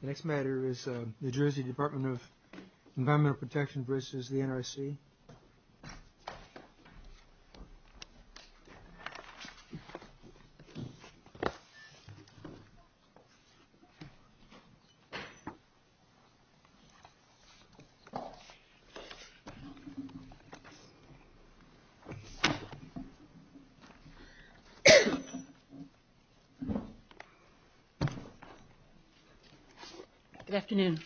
The next matter is the New Jersey Department of Environmental Protection v. the NRC. Good afternoon.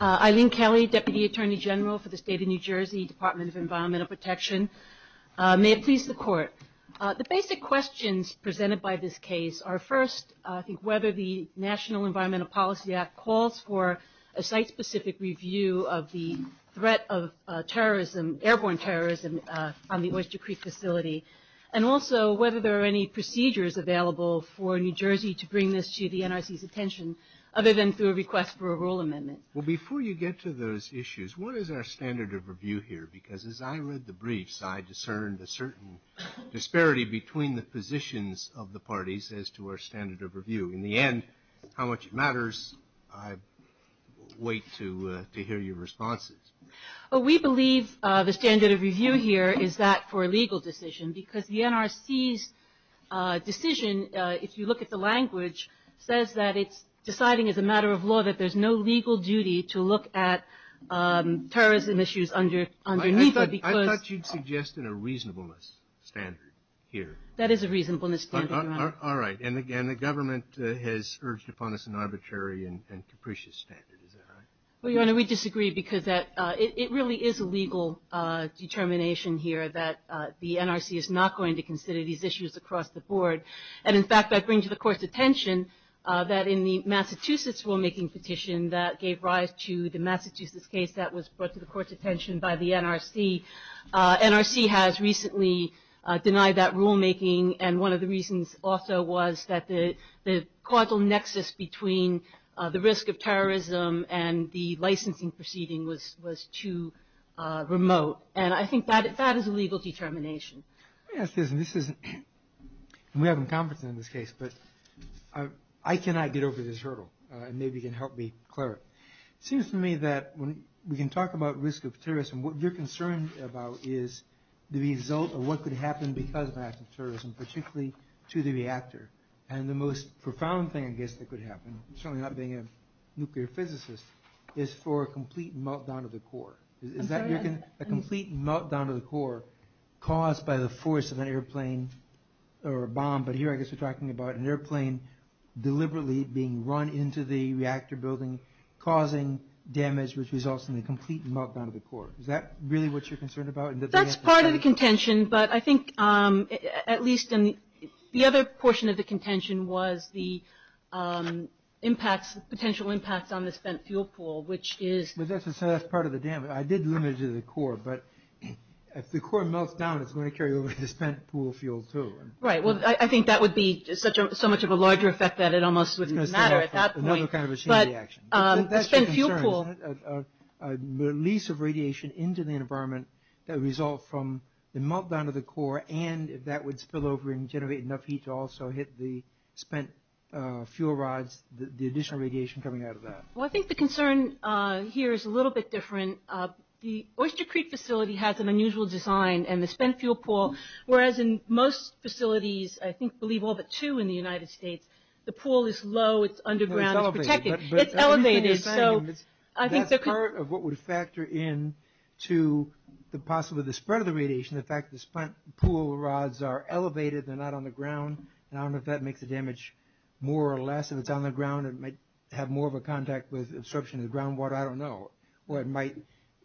Eileen Kelly, Deputy Attorney General for the State of New Jersey, Department of Environmental Protection. May it please the Court. The basic questions presented by this case are first, I think, whether the National Environmental Policy Act calls for a site-specific review of the threat of terrorism, airborne terrorism, on the Oyster Creek facility, and also whether there are any procedures available for New Jersey to bring this to the NRC's attention, other than through a request for a rule amendment. Well, before you get to those issues, what is our standard of review here? Because as I read the briefs, I discerned a certain disparity between the positions of the parties as to our standard of review. In the end, how much it matters, I wait to hear your responses. Well, we believe the standard of review here is that for a legal decision, because the NRC's decision, if you look at the language, says that it's deciding as a matter of law that there's no legal duty to look at terrorism issues underneath it because I thought you'd suggest a reasonableness standard here. That is a reasonableness standard, Your Honor. All right. And again, the government has urged upon us an arbitrary and capricious standard. Is that right? Well, Your Honor, we disagree because it really is a legal determination here that the NRC is not going to consider these issues across the board. And in fact, I bring to the Court's attention that in the Massachusetts rulemaking petition that gave rise to the Massachusetts case that was brought to the Court's attention by the NRC, NRC has recently denied that rulemaking. And one of the reasons also was that the causal nexus between the risk of terrorism and the licensing proceeding was too remote. And I think that is a legal determination. Let me ask you this, and we haven't conferred on this case, but I cannot get over this hurdle. Maybe you can help me clear it. It seems to me that when we can talk about risk of terrorism, what you're concerned about is the result of what could happen because of an act of terrorism, particularly to the reactor. And the most profound thing I guess that could happen, certainly not being a nuclear physicist, is for a complete meltdown of the core. A complete meltdown of the core caused by the force of an airplane or a bomb, but here I guess we're talking about an airplane deliberately being run into the reactor building, causing damage which results in a complete meltdown of the core. Is that really what you're concerned about? That's part of the contention, but I think at least the other portion of the contention was the impacts, the potential impacts on the spent fuel pool, which is... That's part of the damage. I did limit it to the core, but if the core melts down, it's going to carry over the spent fuel pool too. Right. Well, I think that would be so much of a larger effect that it almost wouldn't matter at that point. Another kind of a chain reaction. That's your concern, isn't it? A release of radiation into the environment that would result from the meltdown of the core and if that would spill over and generate enough heat to also hit the spent fuel rods, the additional radiation coming out of that. Well, I think the concern here is a little bit different. The Oyster Creek facility has an unusual design and the spent fuel pool, whereas in most facilities, I believe all but two in the United States, the pool is low, it's underground, it's protected. It's elevated. That's part of what would factor in to possibly the spread of the radiation, the fact that the spent fuel rods are elevated, they're not on the ground, and I don't know if that makes the damage more or less. If it's on the ground, it might have more of a contact with absorption of the groundwater. I don't know. Or it might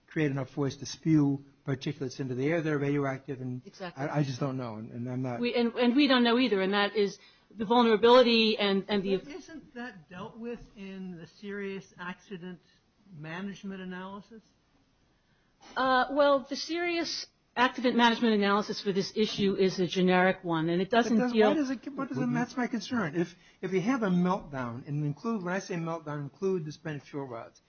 create enough force to spew particulates into the air that are radioactive. Exactly. I just don't know. And I'm not... And we don't know either, and that is the vulnerability and the... Isn't that dealt with in the serious accident management analysis? Well, the serious accident management analysis for this issue is a generic one, and it doesn't deal... Why does it... That's my concern. If you have a meltdown and include... When I say meltdown, include the spent fuel rods.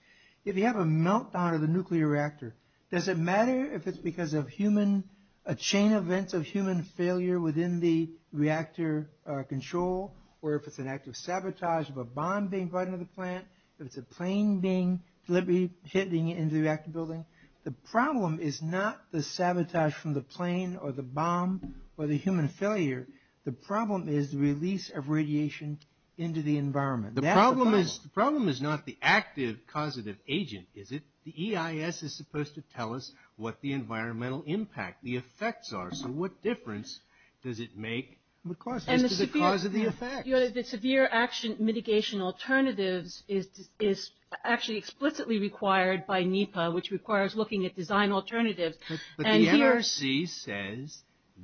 If you have a meltdown of the nuclear reactor, does it matter if it's because of human... a chain event of human failure within the reactor control or if it's an active sabotage of a bomb being brought into the plant, if it's a plane being deliberately hitting into the reactor building? The problem is not the sabotage from the plane or the bomb or the human failure. The problem is the release of radiation into the environment. That's the problem. The problem is not the active causative agent, is it? The EIS is supposed to tell us what the environmental impact, the effects are. So what difference does it make as to the cause of the effects? The severe action mitigation alternatives is actually explicitly required by NEPA, which requires looking at design alternatives. But the NRC says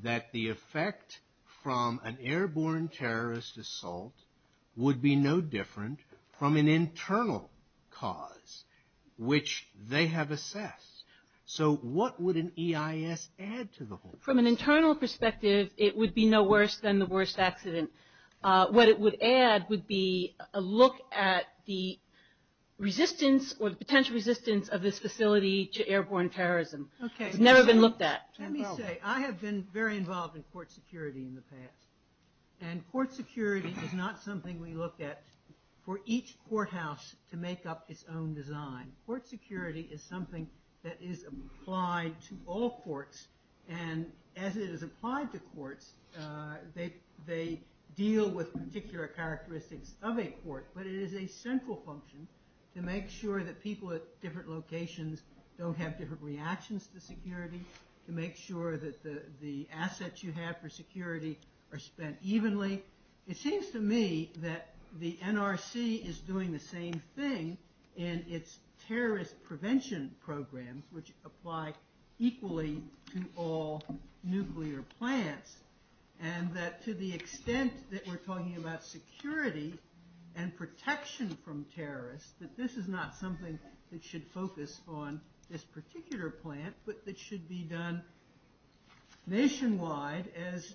that the effect from an airborne terrorist assault would be no different from an internal cause, which they have assessed. So what would an EIS add to the whole thing? From an internal perspective, it would be no worse than the worst accident. What it would add would be a look at the resistance or the potential resistance of this facility to airborne terrorism. It's never been looked at. Let me say, I have been very involved in court security in the past. And court security is not something we look at for each courthouse to make up its own design. Court security is something that is applied to all courts. And as it is applied to courts, they deal with particular characteristics of a court. But it is a central function to make sure that people at different locations don't have different reactions to security, to make sure that the assets you have for security are spent evenly. Finally, it seems to me that the NRC is doing the same thing in its terrorist prevention programs, which apply equally to all nuclear plants. And that to the extent that we're talking about security and protection from terrorists, that this is not something that should focus on this particular plant, but it should be done nationwide, as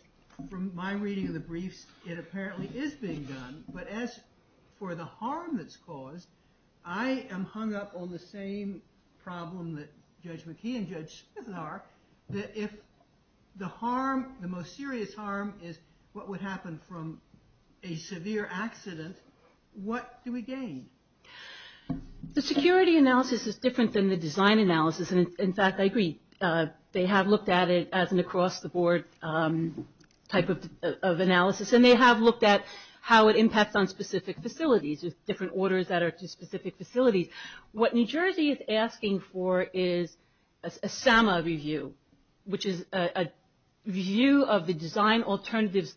from my reading of the briefs, it apparently is being done. But as for the harm that's caused, I am hung up on the same problem that Judge McKee and Judge Smith are, that if the most serious harm is what would happen from a severe accident, what do we gain? The security analysis is different than the design analysis. And, in fact, I agree. They have looked at it as an across-the-board type of analysis, and they have looked at how it impacts on specific facilities, with different orders that are to specific facilities. What New Jersey is asking for is a SAMA review, which is a view of the design alternatives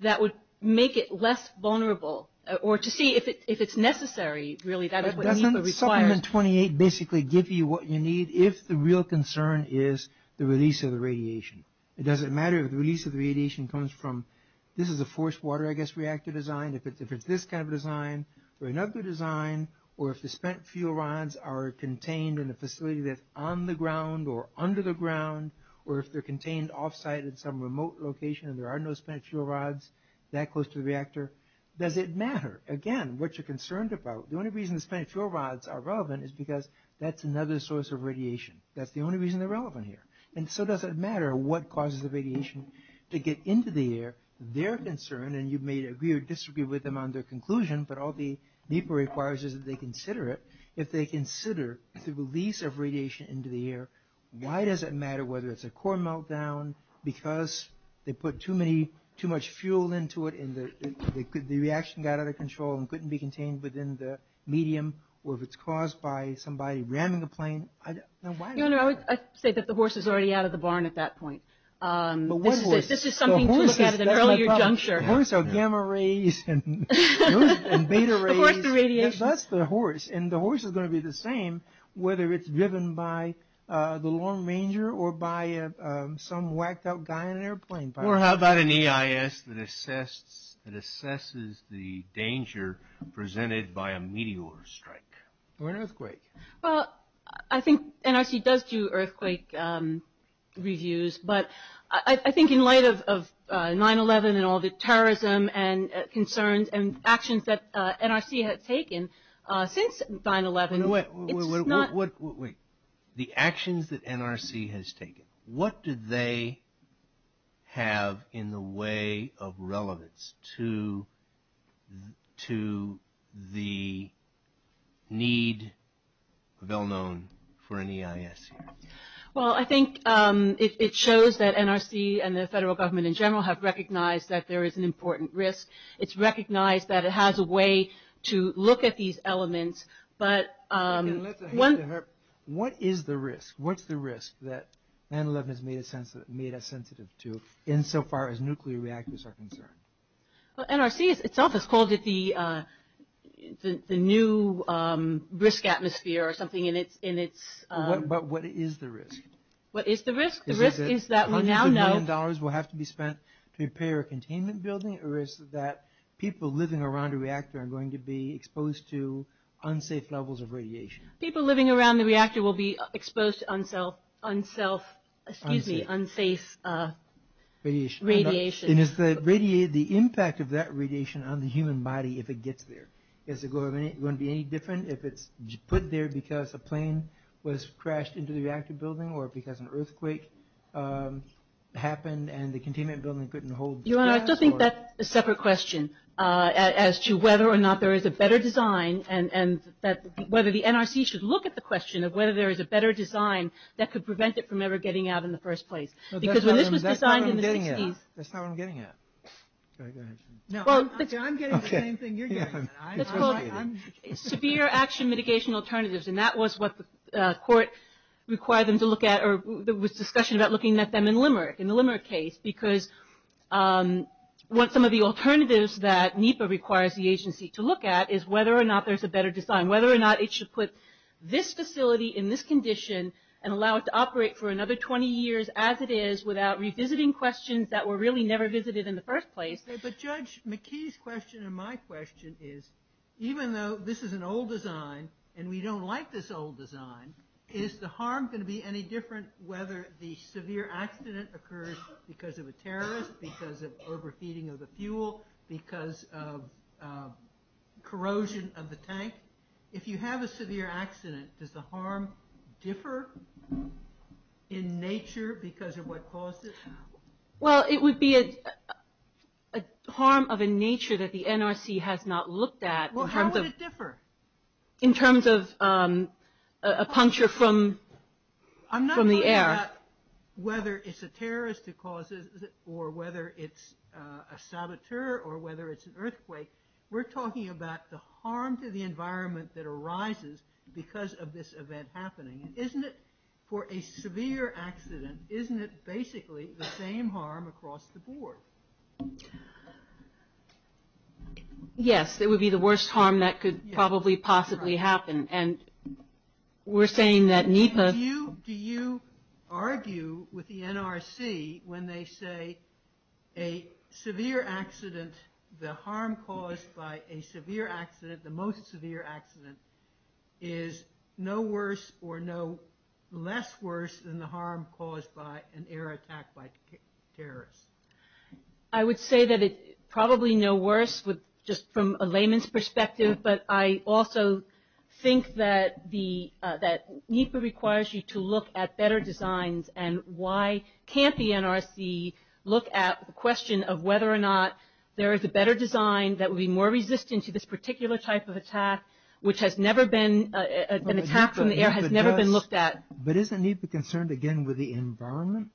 that would make it less vulnerable, or to see if it's necessary, really, that is what NEPA requires. Supplement 28 basically gives you what you need, if the real concern is the release of the radiation. It doesn't matter if the release of the radiation comes from, this is a forced water, I guess, reactor design, if it's this kind of design, or another design, or if the spent fuel rods are contained in a facility that's on the ground, or under the ground, or if they're contained off-site in some remote location, and there are no spent fuel rods that close to the reactor. Does it matter? Again, what you're concerned about, the only reason the spent fuel rods are relevant, is because that's another source of radiation. That's the only reason they're relevant here. And so does it matter what causes the radiation to get into the air? Their concern, and you may agree or disagree with them on their conclusion, but all the NEPA requires is that they consider it. If they consider the release of radiation into the air, why does it matter whether it's a core meltdown, because they put too much fuel into it, and the reaction got out of control, and couldn't be contained within the medium, or if it's caused by somebody ramming a plane. Why does it matter? I would say that the horse is already out of the barn at that point. This is something to look at at an earlier juncture. Horses are gamma rays and beta rays. The horse is the radiation. Yes, that's the horse. And the horse is going to be the same, whether it's driven by the long ranger, or by some whacked out guy in an airplane. Or how about an EIS that assesses the danger presented by a meteor strike? Or an earthquake. Well, I think NRC does do earthquake reviews, but I think in light of 9-11 and all the terrorism and concerns and actions that NRC has taken since 9-11, it's not... Wait, wait, wait. The actions that NRC has taken. What do they have in the way of relevance to the need, well known, for an EIS? Well, I think it shows that NRC and the federal government in general have recognized that there is an important risk. It's recognized that it has a way to look at these elements, but... What is the risk? What's the risk that 9-11 has made us sensitive to insofar as nuclear reactors are concerned? Well, NRC itself has called it the new risk atmosphere or something in its... But what is the risk? What is the risk? The risk is that we now know... Is it that hundreds of million dollars will have to be spent to repair a containment building, or is it that people living around a reactor are going to be exposed to unsafe levels of radiation? People living around the reactor will be exposed to unsafe radiation. And is the impact of that radiation on the human body if it gets there? Is it going to be any different if it's put there because a plane was crashed into the reactor building or because an earthquake happened and the containment building couldn't hold gas? Your Honor, I still think that's a separate question as to whether or not there is a better design and whether the NRC should look at the question of whether there is a better design that could prevent it from ever getting out in the first place. Because when this was designed in the 60s... That's not what I'm getting at. I'm getting the same thing you're getting at. It's called severe action mitigation alternatives, and that was what the court required them to look at or there was discussion about looking at them in Limerick, in the Limerick case, because some of the alternatives that NEPA requires the agency to look at is whether or not there's a better design, whether or not it should put this facility in this condition and allow it to operate for another 20 years as it is without revisiting questions that were really never visited in the first place. But Judge McKee's question and my question is, even though this is an old design and we don't like this old design, is the harm going to be any different whether the severe accident occurs because of a terrorist, because of overfeeding of the fuel, because of corrosion of the tank? If you have a severe accident, does the harm differ in nature because of what caused it? Well, it would be a harm of a nature that the NRC has not looked at... Well, how would it differ? In terms of a puncture from the air. I'm not talking about whether it's a terrorist or whether it's a saboteur or whether it's an earthquake. We're talking about the harm to the environment that arises because of this event happening. Isn't it, for a severe accident, isn't it basically the same harm across the board? Yes, it would be the worst harm that could probably possibly happen. And we're saying that NEPA... Do you argue with the NRC when they say a severe accident, the harm caused by a severe accident, the most severe accident is no worse or no less worse than the harm caused by an air attack by terrorists? I would say that it's probably no worse just from a layman's perspective, but I also think that NEPA requires you to look at better designs and why can't the NRC look at the question of whether or not there is a better design that would be more resistant to this particular type of attack, which has never been... An attack from the air has never been looked at. But isn't NEPA concerned, again, with the environment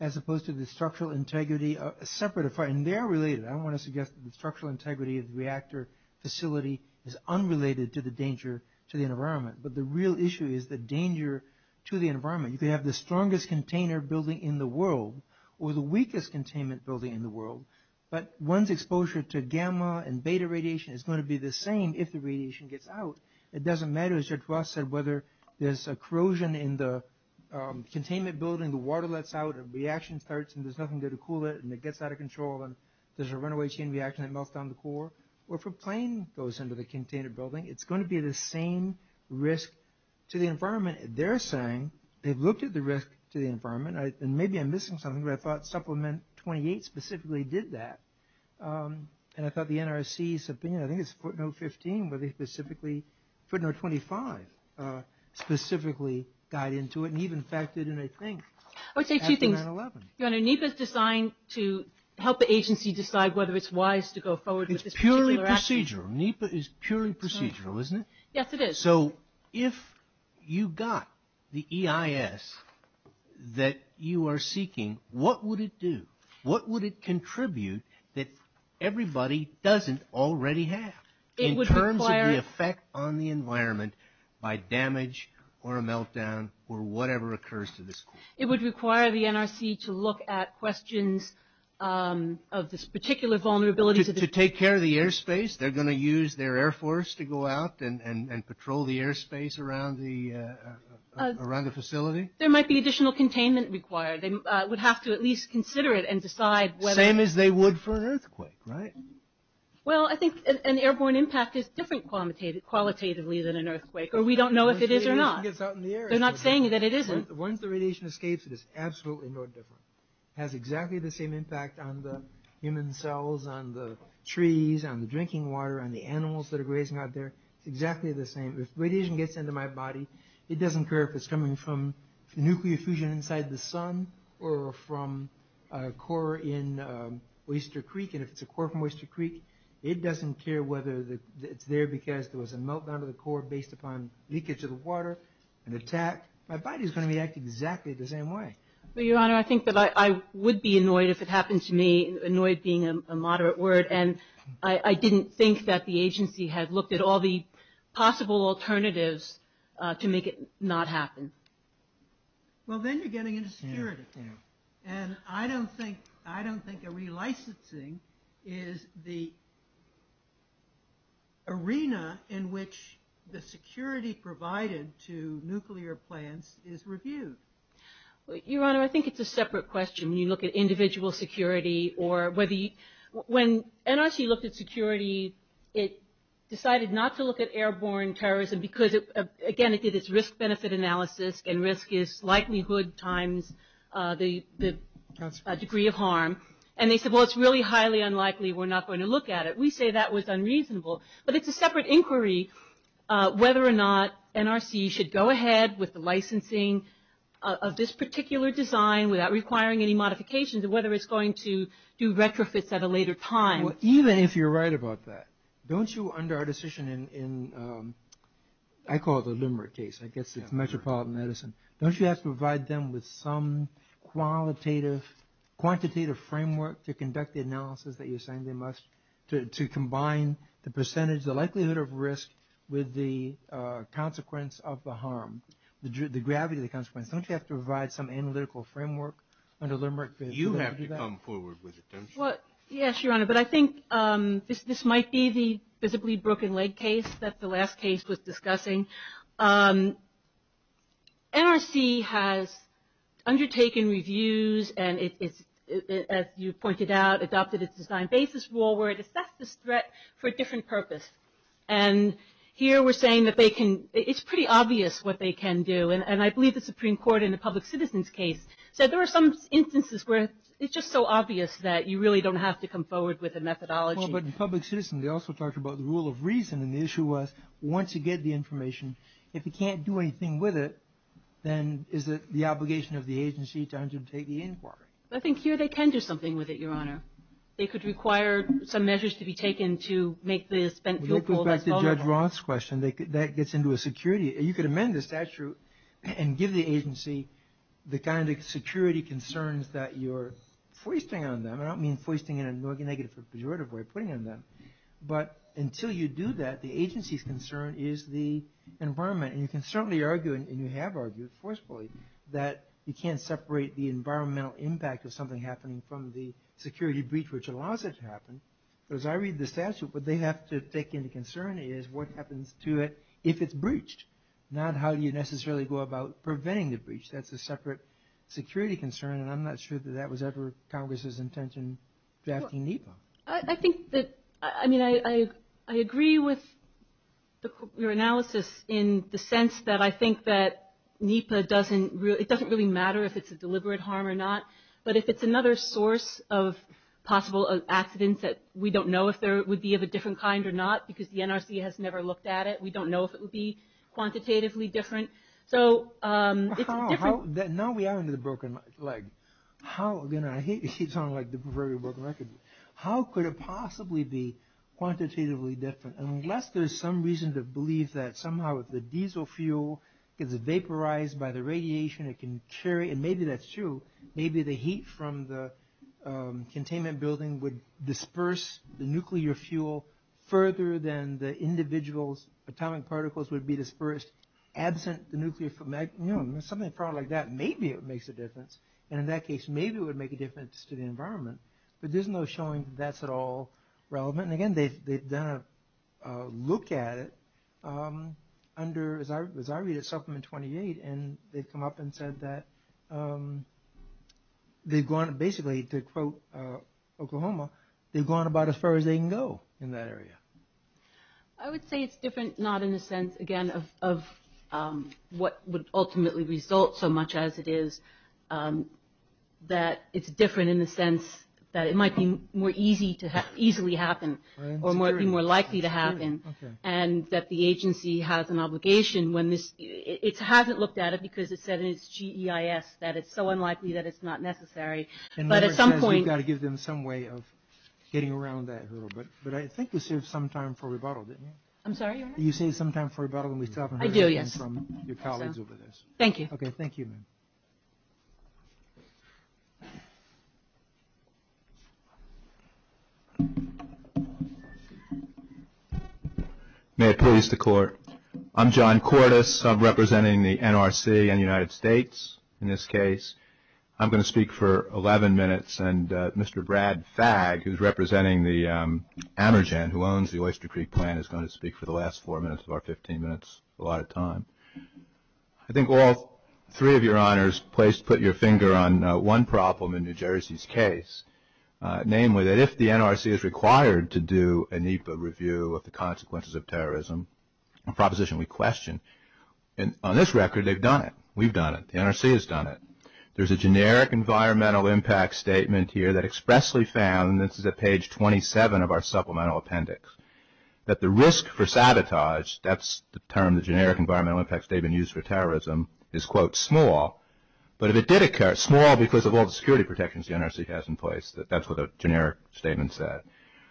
as opposed to the structural integrity of a separate... And they're related. I don't want to suggest that the structural integrity of the reactor facility is unrelated to the danger to the environment, but the real issue is the danger to the environment. You could have the strongest container building in the world or the weakest containment building in the world, but one's exposure to gamma and beta radiation is going to be the same if the radiation gets out. It doesn't matter, as George Ross said, whether there's corrosion in the containment building, the water lets out, a reaction starts, and there's nothing there to cool it, and it gets out of control, and there's a runaway chain reaction that melts down the core, or if a plane goes into the containment building, it's going to be the same risk to the environment. They're saying they've looked at the risk to the environment, and maybe I'm missing something, but I thought Supplement 28 specifically did that. And I thought the NRC's opinion, I think it's footnote 15, where they specifically... Footnote 25 specifically got into it, and he, in fact, did it, I think, after 9-11. NEPA's designed to help the agency decide whether it's wise to go forward with this particular action. It's purely procedural. NEPA is purely procedural, isn't it? Yes, it is. So if you got the EIS that you are seeking, what would it do? What would it contribute that everybody doesn't already have in terms of the effect on the environment by damage or a meltdown or whatever occurs to this core? It would require the NRC to look at questions of this particular vulnerability. To take care of the airspace? They're going to use their Air Force to go out and patrol the airspace around the facility? There might be additional containment required. They would have to at least consider it and decide whether... Same as they would for an earthquake, right? Well, I think an airborne impact is different qualitatively than an earthquake, or we don't know if it is or not. They're not saying that it isn't. Once the radiation escapes, it is absolutely no different. It has exactly the same impact on the human cells, on the trees, on the drinking water, on the animals that are grazing out there. It's exactly the same. If radiation gets into my body, it doesn't care if it's coming from nuclear fusion inside the sun or from a core in Oyster Creek. And if it's a core from Oyster Creek, it doesn't care whether it's there because there was a meltdown of the core based upon leakage of the water and attack. My body is going to react exactly the same way. Your Honor, I think that I would be annoyed if it happened to me. Annoyed being a moderate word. And I didn't think that the agency had looked at all the possible alternatives to make it not happen. Well, then you're getting into security. And I don't think a relicensing is the arena in which the security provided to nuclear plants is reviewed. Your Honor, I think it's a separate question. When you look at individual security or whether you... When NRC looked at security, it decided not to look at airborne terrorism because, again, it did its risk-benefit analysis and risk is likelihood times the degree of harm. And they said, well, it's really highly unlikely we're not going to look at it. We say that was unreasonable. But it's a separate inquiry whether or not NRC should go ahead with the licensing of this particular design without requiring any modifications or whether it's going to do retrofits at a later time. Even if you're right about that, don't you, under our decision in... I call it the limerick case. I guess it's metropolitan medicine. Don't you have to provide them with some qualitative... quantitative framework to conduct the analysis that you're saying they must... to combine the percentage, the likelihood of risk with the consequence of the harm, the gravity of the consequence? Don't you have to provide some analytical framework under limerick? You have to come forward with it, don't you? Yes, Your Honor. But I think this might be the physically broken leg case that the last case was discussing. NRC has undertaken reviews and it's, as you pointed out, adopted its design basis rule where it assessed this threat for a different purpose. And here we're saying that they can... it's pretty obvious what they can do. And I believe the Supreme Court in the public citizen's case said there were some instances where it's just so obvious that you really don't have to come forward with a methodology. Well, but in public citizen they also talked about the rule of reason and the issue was once you get the information, if you can't do anything with it, then is it the obligation of the agency to undertake the inquiry? I think here they can do something with it, Your Honor. They could require some measures to be taken to make the spent fuel pool less vulnerable. It goes back to Judge Roth's question. That gets into a security... you could amend the statute and give the agency the kind of security concerns that you're foisting on them. I don't mean foisting in a negative or pejorative way, putting on them. But until you do that, the agency's concern is the environment. And you can certainly argue, and you have argued forcefully, that you can't separate the environmental impact of something happening from the security breach which allows it to happen. As I read the statute, what they have to take into concern is what happens to it if it's breached, not how you necessarily go about preventing the breach. That's a separate security concern and I'm not sure that that was ever Congress's intention drafting NEPA. I think that... I mean, I agree with your analysis in the sense that I think that NEPA doesn't really matter if it's a deliberate harm or not. But if it's another source of possible accidents that we don't know if they would be of a different kind or not because the NRC has never looked at it, we don't know if it would be quantitatively different. So, it's a different... Now we are on the broken leg. How, again, I hate to sound like the pervert of broken record. How could it possibly be quantitatively different unless there's some reason to believe that somehow if the diesel fuel gets vaporized by the radiation, it can carry... and maybe that's true. Maybe the heat from the containment building would disperse the nuclear fuel further than the individual's atomic particles would be dispersed absent the nuclear... Something probably like that, maybe it makes a difference. And in that case, maybe it would make a difference to the environment. But there's no showing that that's at all relevant. And again, they've done a look at it under, as I read it, Supplement 28, and they've come up and said that they've gone, basically, to quote Oklahoma, they've gone about as far as they can go in that area. I would say it's different, not in the sense, again, of what would ultimately result so much as it is that it's different in the sense that it might be more easy to... easily happen or might be more likely to happen. And that the agency has an obligation when this... It hasn't looked at it because it said in its G.E.I.S. that it's so unlikely that it's not necessary. But at some point... And that means we've got to give them some way of getting around that a little bit. But I think we saved some time for rebuttal, didn't we? I'm sorry, Your Honor? You saved some time for rebuttal and we still haven't heard anything from your colleagues over this. I do, yes. Thank you. Okay, thank you, ma'am. May it please the Court. I'm John Cordes. I'm representing the NRC and the United States in this case. I'm going to speak for 11 minutes and Mr. Brad Fagg, who's representing the AmerGen, who owns the Oyster Creek plant, is going to speak for the last four minutes of our 15 minutes. A lot of time. I think all three of your honors put your finger on one problem in New Jersey's case, namely that if the NRC is required to do a NEPA review of the consequences of terrorism, a proposition we question, on this record they've done it. We've done it. The NRC has done it. There's a generic environmental impact statement here that expressly found, and this is at page 27 of our supplemental appendix, that the risk for sabotage, that's the term, the generic environmental impact statement used for terrorism, is, quote, small. But if it did occur, small because of all the security protections the NRC has in place, that's what the generic statement said.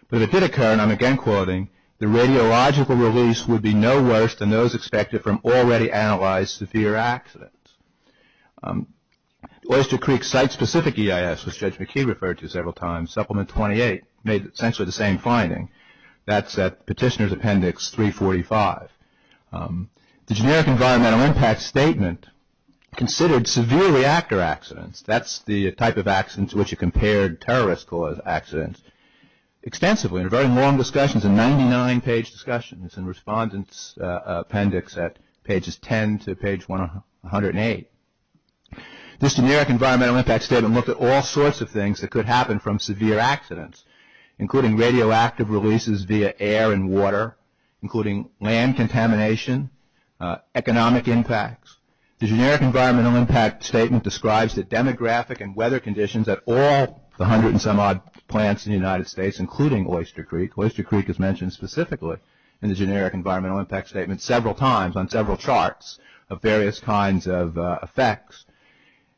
But if it did occur, and I'm again quoting, the radiological release would be no worse than those expected from already analyzed severe accidents. Oyster Creek site-specific EIS, which Judge McKee referred to several times, Supplement 28 made essentially the same finding. That's at Petitioner's Appendix 345. The generic environmental impact statement considered severe reactor accidents, that's the type of accident to which you compared terrorist-caused accidents, extensively in a very long discussion. It's a 99-page discussion. It's in Respondent's Appendix at pages 10 to page 108. This generic environmental impact statement looked at all sorts of things that could happen from severe accidents, including radioactive releases via air and water, including land contamination, economic impacts. The generic environmental impact statement describes the demographic and weather conditions at all the hundred-and-some-odd plants in the United States, including Oyster Creek. Oyster Creek is mentioned specifically in the generic environmental impact statement several times on several charts of various kinds of effects.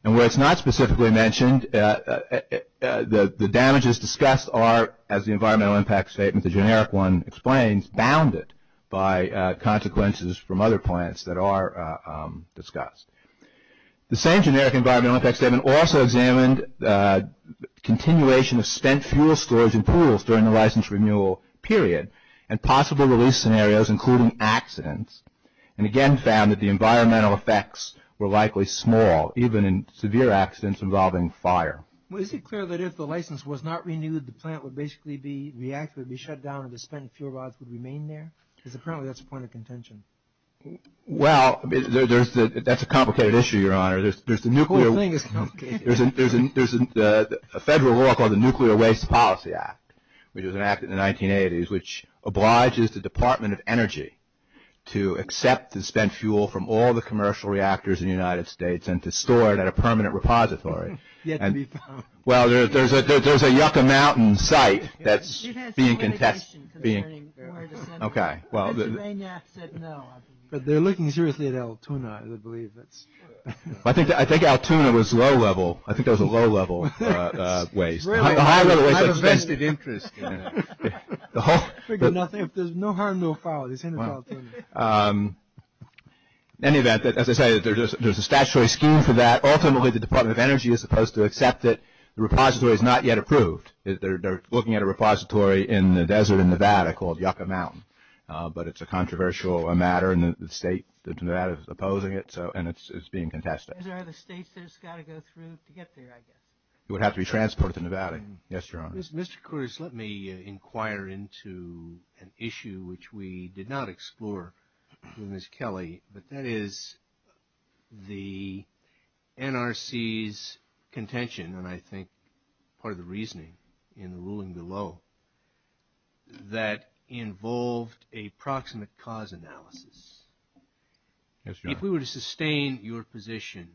And where it's not specifically mentioned, the damages discussed are, as the environmental impact statement, the generic one explains, bounded by consequences from other plants that are discussed. The same generic environmental impact statement also examined continuation of spent fuel storage in pools during the license renewal period and possible release scenarios, including accidents, and again found that the environmental effects were likely small, even in severe accidents involving fire. Well, is it clear that if the license was not renewed, the plant would basically be shut down and the spent fuel rods would remain there? Because apparently that's a point of contention. Well, that's a complicated issue, Your Honor. The whole thing is complicated. There's a federal law called the Nuclear Waste Policy Act, which was enacted in the 1980s, which obliges the Department of Energy to accept the spent fuel from all the commercial reactors in the United States and to store it at a permanent repository. Well, there's a Yucca Mountain site that's being contested. Okay. But they're looking seriously at Altoona, I believe. I think Altoona was low-level. I think that was a low-level waste. I have a vested interest in it. There's no harm, no foul. In any event, as I say, there's a statutory scheme for that. Ultimately, the Department of Energy is supposed to accept it. The repository is not yet approved. They're looking at a repository in the desert in Nevada called Yucca Mountain. But it's a controversial matter, and the state of Nevada is opposing it, and it's being contested. Are there other states that it's got to go through to get there, I guess? It would have to be transported to Nevada. Yes, Your Honor. Mr. Curtis, let me inquire into an issue which we did not explore with Ms. Kelly, but that is the NRC's contention, and I think part of the reasoning in the ruling below, that involved a proximate cause analysis. Yes, Your Honor. If we were to sustain your position,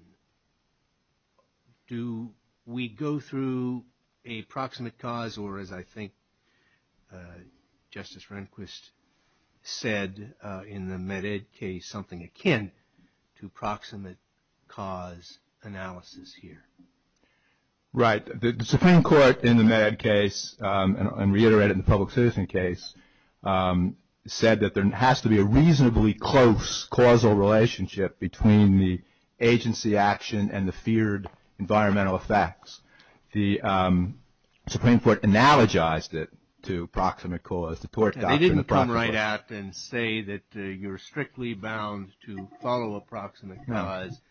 do we go through a proximate cause, or as I think Justice Rehnquist said in the MedEd case, something akin to proximate cause analysis here? Right. The Supreme Court in the MedEd case, and reiterated in the public citizen case, said that there has to be a reasonably close causal relationship between the agency action and the feared environmental effects. The Supreme Court analogized it to proximate cause. They didn't come right out and say that you're strictly bound to follow a proximate cause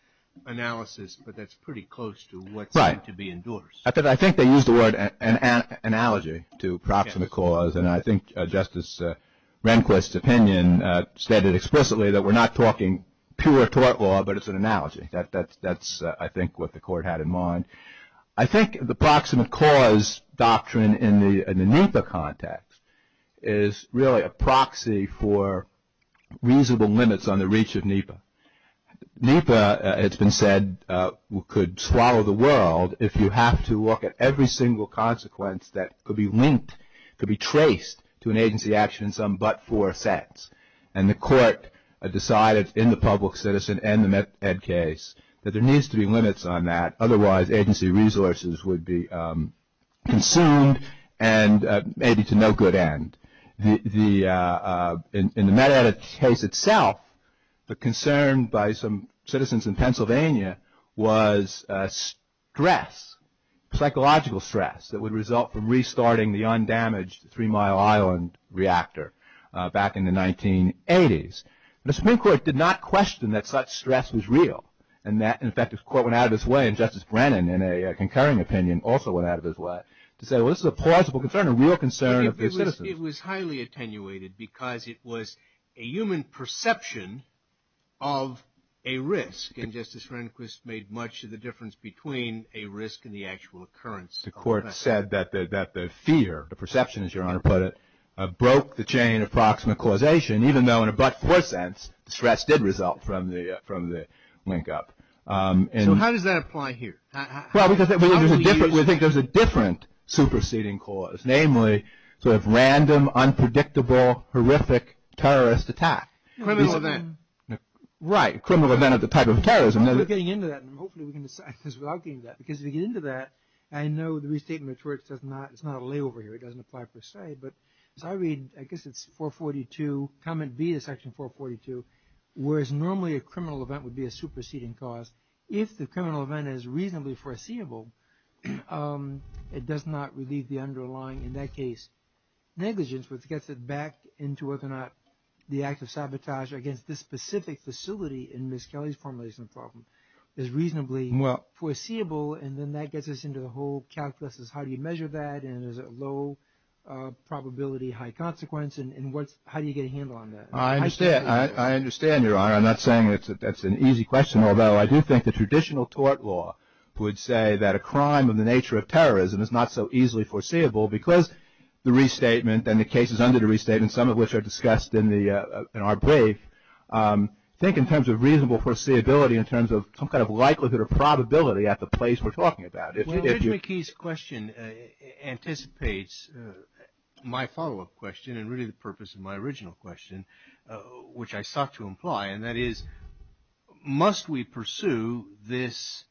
analysis, but that's pretty close to what's going to be endorsed. I think they used the word analogy to proximate cause, and I think Justice Rehnquist's opinion stated explicitly that we're not talking pure tort law, but it's an analogy. That's, I think, what the Court had in mind. I think the proximate cause doctrine in the NEPA context is really a proxy for reasonable limits on the reach of NEPA. NEPA, it's been said, could swallow the world if you have to look at every single consequence that could be linked, could be traced to an agency action in some but-for sense. And the Court decided in the public citizen and the MedEd case that there needs to be limits on that, otherwise agency resources would be consumed and maybe to no good end. In the MedEd case itself, the concern by some citizens in Pennsylvania was stress, psychological stress that would result from restarting the undamaged Three Mile Island reactor back in the 1980s. The Supreme Court did not question that such stress was real and that, in effect, the Court went out of its way, and Justice Brennan, in a concurring opinion, also went out of his way to say, well, this is a plausible concern, a real concern of the citizens. It was highly attenuated because it was a human perception of a risk, and Justice Rehnquist made much of the difference between a risk and the actual occurrence. The Court said that the fear, the perception, as Your Honor put it, broke the chain of proximate causation, even though in a but-for sense, the stress did result from the linkup. So how does that apply here? Well, we think there's a different superseding cause, namely sort of random, unpredictable, horrific terrorist attack. Criminal event. Right. Criminal event of the type of terrorism. We're getting into that, and hopefully we can decide this without getting into that, because if we get into that, I know the restatement of torts is not a layover here. It doesn't apply per se, but as I read, I guess it's 442, Comment B of Section 442, where it's normally a criminal event would be a superseding cause. If the criminal event is reasonably foreseeable, it does not relieve the underlying, in that case, negligence, which gets it back into whether or not the act of sabotage against this specific facility in Ms. Kelly's formulation of the problem is reasonably foreseeable, and then that gets us into the whole calculus of how do you measure that, and is it low probability, high consequence, and how do you get a handle on that? I understand, Your Honor. I'm not saying that's an easy question, although I do think the traditional tort law would say that a crime of the nature of terrorism is not so easily foreseeable because the restatement and the cases under the restatement, some of which are discussed in our brief, think in terms of reasonable foreseeability in terms of some kind of likelihood or probability at the place we're talking about. Well, Judge McKee's question anticipates my follow-up question and really the purpose of my original question, which I sought to imply, and that is must we pursue this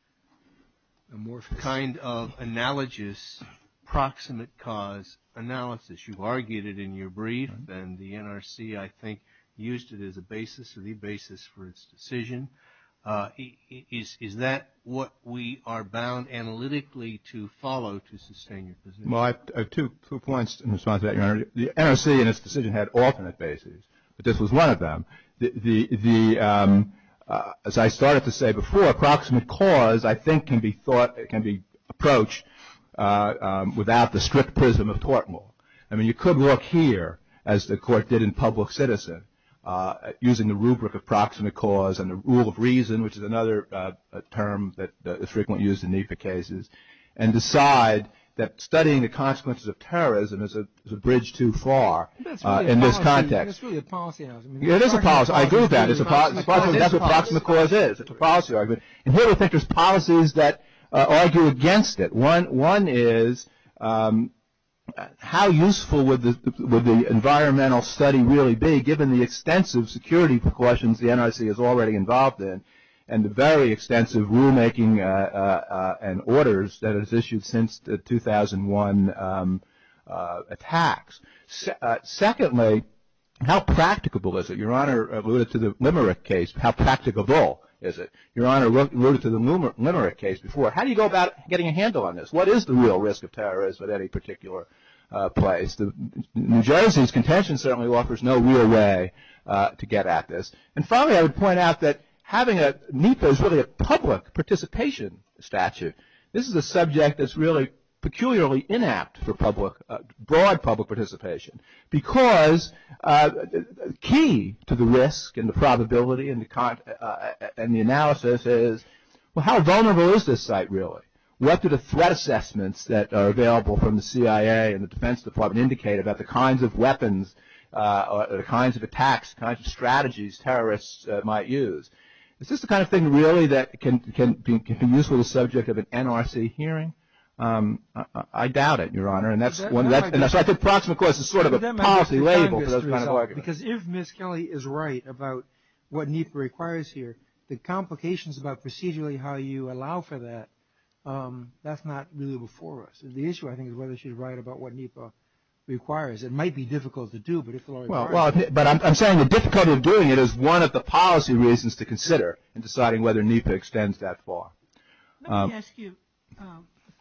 kind of analogous proximate cause analysis? You've argued it in your brief, and the NRC, I think, used it as a basis, or the basis for its decision. Is that what we are bound analytically to follow to sustain your position? Well, I have two points in response to that, Your Honor. The NRC in its decision had alternate bases, but this was one of them. As I started to say before, proximate cause, I think, can be approached without the strict prism of tort law. I mean, you could look here, as the Court did in public citizen, using the rubric of proximate cause and the rule of reason, which is another term that is frequently used in NEPA cases, and decide that studying the consequences of terrorism is a bridge too far in this context. I mean, it's really a policy argument. It is a policy argument. I agree with that. That's what proximate cause is. It's a policy argument. And here I think there's policies that argue against it. One is how useful would the environmental study really be, given the extensive security precautions the NRC is already involved in and the very extensive rulemaking and orders that it has issued since the 2001 attacks. Secondly, how practicable is it? Your Honor alluded to the Limerick case. How practicable is it? Your Honor alluded to the Limerick case before. How do you go about getting a handle on this? What is the real risk of terrorism at any particular place? New Jersey's contention certainly offers no real way to get at this. And finally, I would point out that having a NEPA is really a public participation statute. This is a subject that's really peculiarly inapt for broad public participation because key to the risk and the probability and the analysis is, well, how vulnerable is this site really? What do the threat assessments that are available from the CIA and the Defense Department indicate about the kinds of weapons or the kinds of attacks, the kinds of strategies terrorists might use? Is this the kind of thing really that can be useful to the subject of an NRC hearing? I doubt it, Your Honor. And so I think proximate course is sort of a policy label for those kinds of arguments. Because if Ms. Kelly is right about what NEPA requires here, the complications about procedurally how you allow for that, that's not really before us. The issue, I think, is whether she's right about what NEPA requires. It might be difficult to do, but if it requires it. But I'm saying the difficulty of doing it is one of the policy reasons to consider in deciding whether NEPA extends that far. Let me ask you a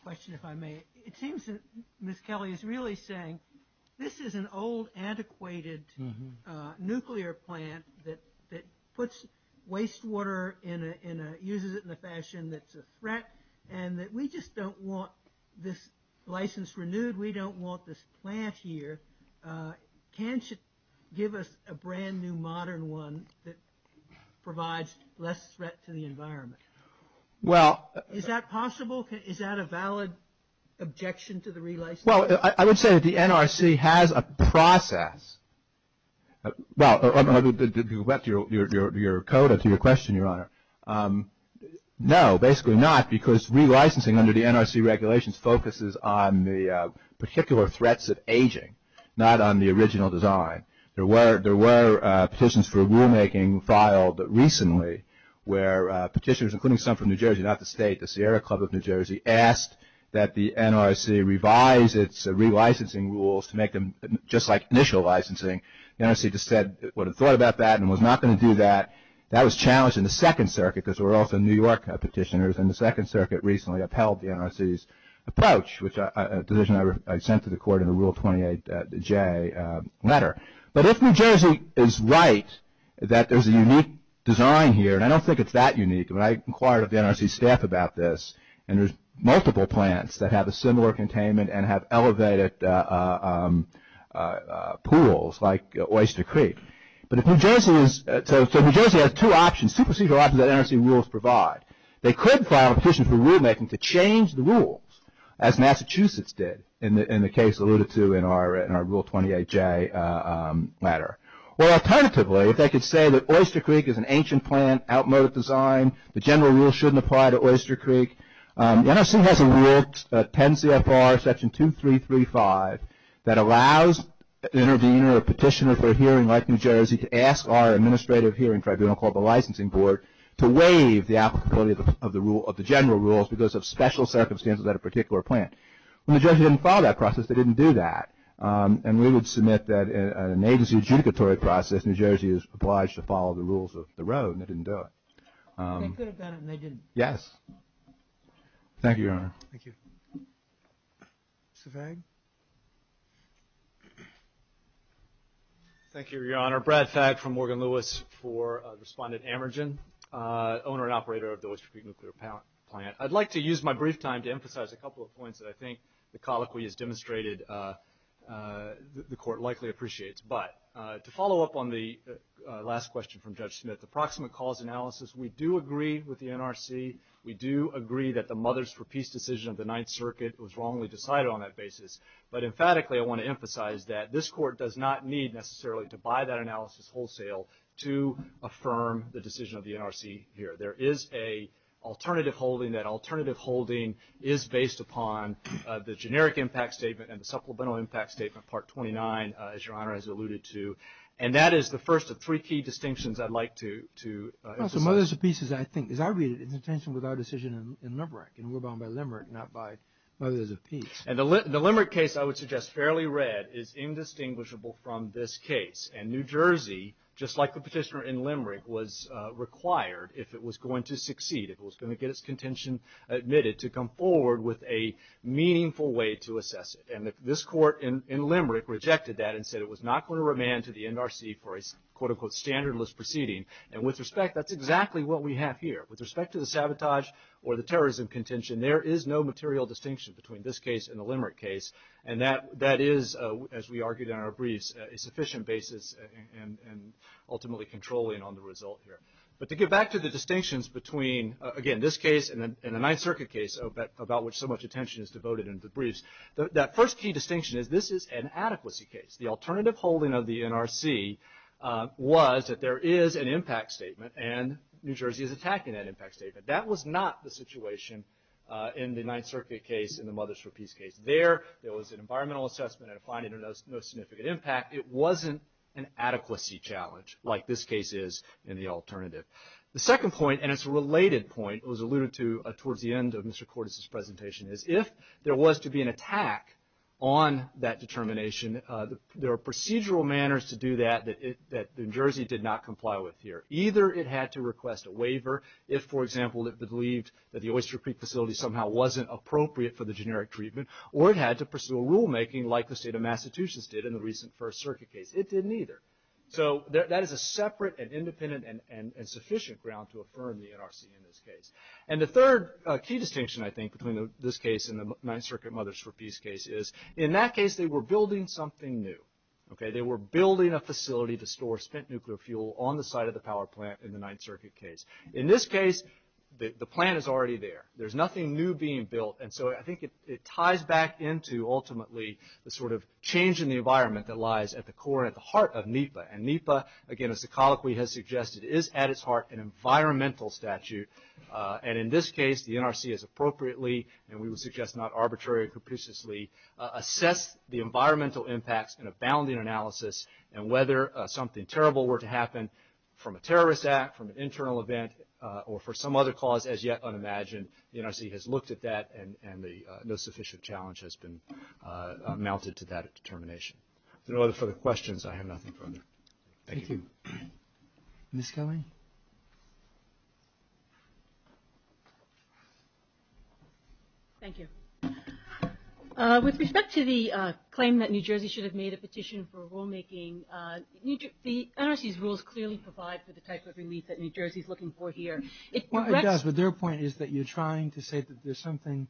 question, if I may. It seems that Ms. Kelly is really saying this is an old, antiquated nuclear plant that puts wastewater and uses it in a fashion that's a threat and that we just don't want this license renewed. We don't want this plant here. Can't you give us a brand-new modern one that provides less threat to the environment? Is that possible? Is that a valid objection to the relicensing? Well, I would say that the NRC has a process. Well, you went to your coda to your question, Your Honor. No, basically not, because relicensing under the NRC regulations focuses on the particular threats of aging, not on the original design. There were petitions for rulemaking filed recently where petitioners, including some from New Jersey, not the state, the Sierra Club of New Jersey, asked that the NRC revise its relicensing rules to make them just like initial licensing. The NRC just said it would have thought about that and was not going to do that. That was challenged in the Second Circuit, because there were also New York petitioners, and the Second Circuit recently upheld the NRC's approach, a decision I sent to the court in the Rule 28J letter. If New Jersey is right that there's a unique design here, and I don't think it's that unique. I inquired with the NRC staff about this, and there's multiple plants that have a similar containment and have elevated pools like Oyster Creek. New Jersey has two procedural options that NRC rules provide. They could file a petition for rulemaking to change the rules, as Massachusetts did, in the case alluded to in our Rule 28J letter. Alternatively, if they could say that Oyster Creek is an ancient plant, outmoded design, the general rule shouldn't apply to Oyster Creek. The NRC has a rule, 10 CFR Section 2335, that allows the intervener or petitioner for a hearing like New Jersey to ask our administrative hearing tribunal called the licensing board to waive the applicability of the general rules because of special circumstances at a particular plant. When New Jersey didn't follow that process, they didn't do that. And we would submit that in an agency adjudicatory process, New Jersey is obliged to follow the rules of the road, and they didn't do it. They could have done it, and they didn't. Yes. Thank you, Your Honor. Thank you. Mr. Fag? Thank you, Your Honor. Brad Fag from Morgan Lewis for Respondent Amergen, owner and operator of the Oyster Creek Nuclear Plant. I'd like to use my brief time to emphasize a couple of points that I think the colloquy has demonstrated the Court likely appreciates. But to follow up on the last question from Judge Smith, the proximate cause analysis, we do agree with the NRC. We do agree that the Mothers for Peace decision of the Ninth Circuit was wrongly decided on that basis. But emphatically, I want to emphasize that this Court does not need necessarily to buy that analysis wholesale to affirm the decision of the NRC here. There is an alternative holding. That alternative holding is based upon the generic impact statement and the supplemental impact statement, Part 29, as Your Honor has alluded to. And that is the first of three key distinctions I'd like to emphasize. No, so Mothers for Peace is, I think, is our intention with our decision in Limerick, and we're bound by Limerick, not by Mothers for Peace. And the Limerick case, I would suggest, fairly read, is indistinguishable from this case. And New Jersey, just like the petitioner in Limerick, was required, if it was going to succeed, if it was going to get its contention admitted, to come forward with a meaningful way to assess it. And this Court in Limerick rejected that and said it was not going to remand to the NRC for a quote, unquote, standardless proceeding. And with respect, that's exactly what we have here. With respect to the sabotage or the terrorism contention, there is no material distinction between this case and the Limerick case. And that is, as we argued in our briefs, a sufficient basis and ultimately controlling on the result here. But to get back to the distinctions between, again, this case and the Ninth Circuit case, about which so much attention is devoted in the briefs, that first key distinction is this is an adequacy case. The alternative holding of the NRC was that there is an impact statement and New Jersey is attacking that impact statement. That was not the situation in the Ninth Circuit case and the Mothers for Peace case. There, there was an environmental assessment and a finding of no significant impact. It wasn't an adequacy challenge like this case is in the alternative. The second point, and it's a related point, it was alluded to towards the end of Mr. Cordes' presentation, is if there was to be an attack on that determination, there are procedural manners to do that that New Jersey did not comply with here. Either it had to request a waiver if, for example, it believed that the Oyster Creek facility somehow wasn't appropriate for the generic treatment, or it had to pursue a rulemaking like the state of Massachusetts did in the recent First Circuit case. It didn't either. So that is a separate and independent and sufficient ground to affirm the NRC in this case. And the third key distinction, I think, between this case and the Ninth Circuit Mothers for Peace case is, in that case, they were building something new. They were building a facility to store spent nuclear fuel on the site of the power plant in the Ninth Circuit case. In this case, the plant is already there. There's nothing new being built, and so I think it ties back into, ultimately, the sort of change in the environment that lies at the core and at the heart of NEPA. And NEPA, again, as the colloquy has suggested, is at its heart an environmental statute. And in this case, the NRC has appropriately, and we would suggest not arbitrarily or capriciously, assessed the environmental impacts in a bounding analysis, and whether something terrible were to happen from a terrorist act, from an internal event, or for some other cause as yet unimagined, the NRC has looked at that, and no sufficient challenge has been mounted to that determination. If there are no other further questions, I have nothing further. Thank you. Ms. Kelly? Thank you. With respect to the claim that New Jersey should have made a petition for rulemaking, the NRC's rules clearly provide for the type of relief that New Jersey is looking for here. It does, but their point is that you're trying to say that there's something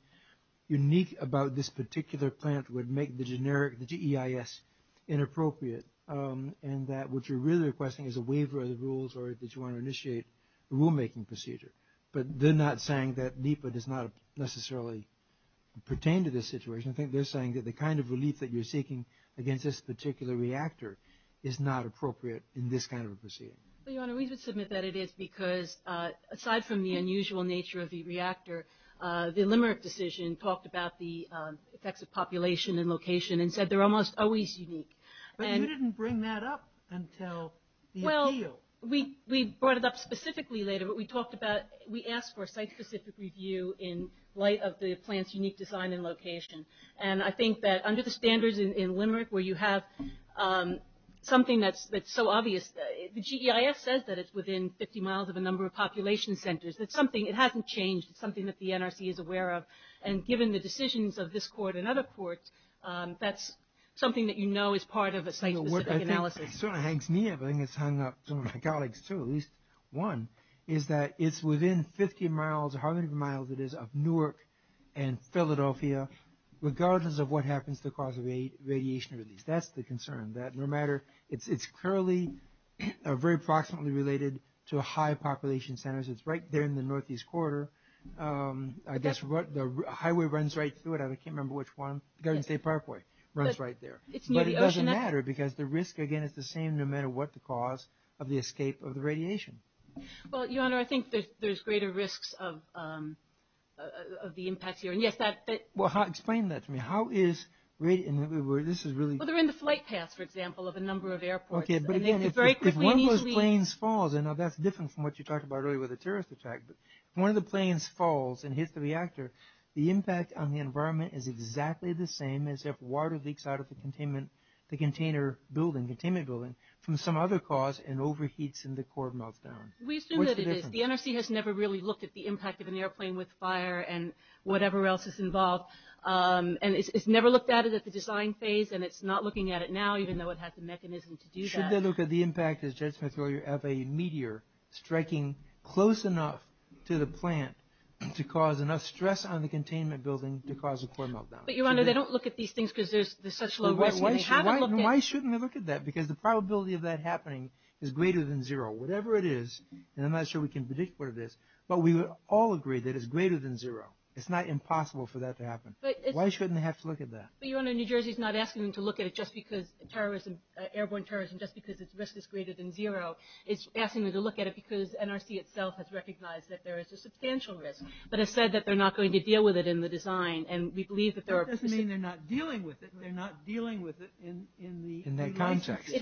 unique about this particular plant would make the generic, the GEIS, inappropriate, and that what you're really requesting is a waiver of the rules, or that you want to initiate a rulemaking procedure. But they're not saying that NEPA does not necessarily pertain to this situation. I think they're saying that the kind of relief that you're seeking against this particular reactor is not appropriate in this kind of a proceeding. Your Honor, we would submit that it is because, aside from the unusual nature of the reactor, the Limerick decision talked about the effects of population and location and said they're almost always unique. But you didn't bring that up until the appeal. Well, we brought it up specifically later, but we asked for a site-specific review in light of the plant's unique design and location. And I think that under the standards in Limerick where you have something that's so obvious, the GEIS says that it's within 50 miles of a number of population centers. It hasn't changed. It's something that the NRC is aware of. And given the decisions of this court and other courts, that's something that you know is part of a site-specific analysis. It sort of hangs near, but I think it's hung up to my colleagues too, at least one, is that it's within 50 miles or however many miles it is of Newark and Philadelphia, regardless of what happens to the cause of radiation release. That's the concern, that no matter, it's clearly very proximately related to high population centers. It's right there in the northeast corridor. I guess the highway runs right through it. I can't remember which one. Garden State Parkway runs right there. But it doesn't matter because the risk, again, is the same no matter what the cause of the escape of the radiation. Well, Your Honor, I think there's greater risks of the impacts here. Well, explain that to me. Well, they're in the flight paths, for example, of a number of airports. Okay, but again, if one of those planes falls, and that's different from what you talked about earlier with the terrorist attack, but if one of the planes falls and hits the reactor, the impact on the environment is exactly the same as if water leaks out of the containment building from some other cause and overheats and the core melts down. We assume that it is. The NRC has never really looked at the impact of an airplane with fire and whatever else is involved, and it's never looked at it at the design phase, and it's not looking at it now even though it has the mechanism to do that. Why would they look at the impact of a meteor striking close enough to the plant to cause enough stress on the containment building to cause a core meltdown? But, Your Honor, they don't look at these things because there's such low risk. Why shouldn't they look at that? Because the probability of that happening is greater than zero. Whatever it is, and I'm not sure we can predict what it is, but we would all agree that it's greater than zero. It's not impossible for that to happen. Why shouldn't they have to look at that? But, Your Honor, New Jersey's not asking them to look at it just because terrorism, airborne terrorism, just because its risk is greater than zero. It's asking them to look at it because NRC itself has recognized that there is a substantial risk, but has said that they're not going to deal with it in the design, and we believe that there are... That doesn't mean they're not dealing with it. They're not dealing with it in the... In that context.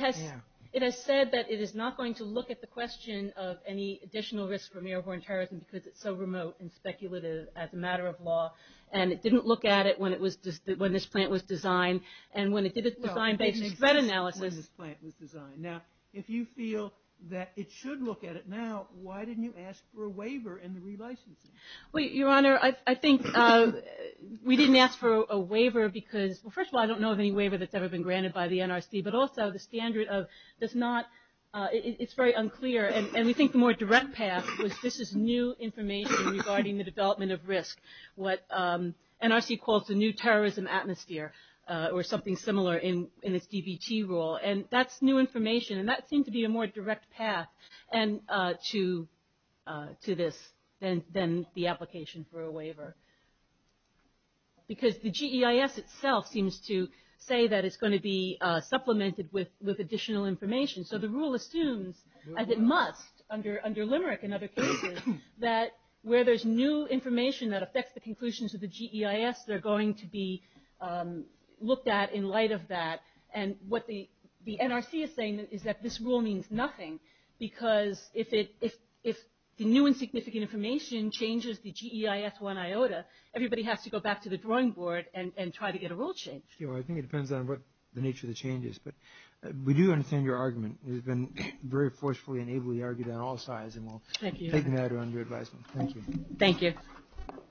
It has said that it is not going to look at the question of any additional risk from airborne terrorism because it's so remote and speculative as a matter of law, and it didn't look at it when this plant was designed, and when it did its design-based threat analysis... Well, it didn't exist when this plant was designed. Now, if you feel that it should look at it now, why didn't you ask for a waiver in the relicensing? Well, Your Honor, I think we didn't ask for a waiver because, well, first of all, I don't know of any waiver that's ever been granted by the NRC, but also the standard of does not... It's very unclear, and we think the more direct path was this is new information regarding the development of risk, what NRC calls the new terrorism atmosphere or something similar in its DBT rule, and that's new information, and that seemed to be a more direct path to this than the application for a waiver because the GEIS itself seems to say that it's going to be supplemented with additional information, so the rule assumes, as it must under Limerick and other cases, that where there's new information that affects the conclusions of the GEIS, they're going to be looked at in light of that, and what the NRC is saying is that this rule means nothing because if the new and significant information changes the GEIS 1 iota, everybody has to go back to the drawing board and try to get a rule changed. Well, I think it depends on what the nature of the change is, but we do understand your argument. It has been very forcefully and ably argued on all sides, and we'll take matter under advisement. Thank you. Thank you.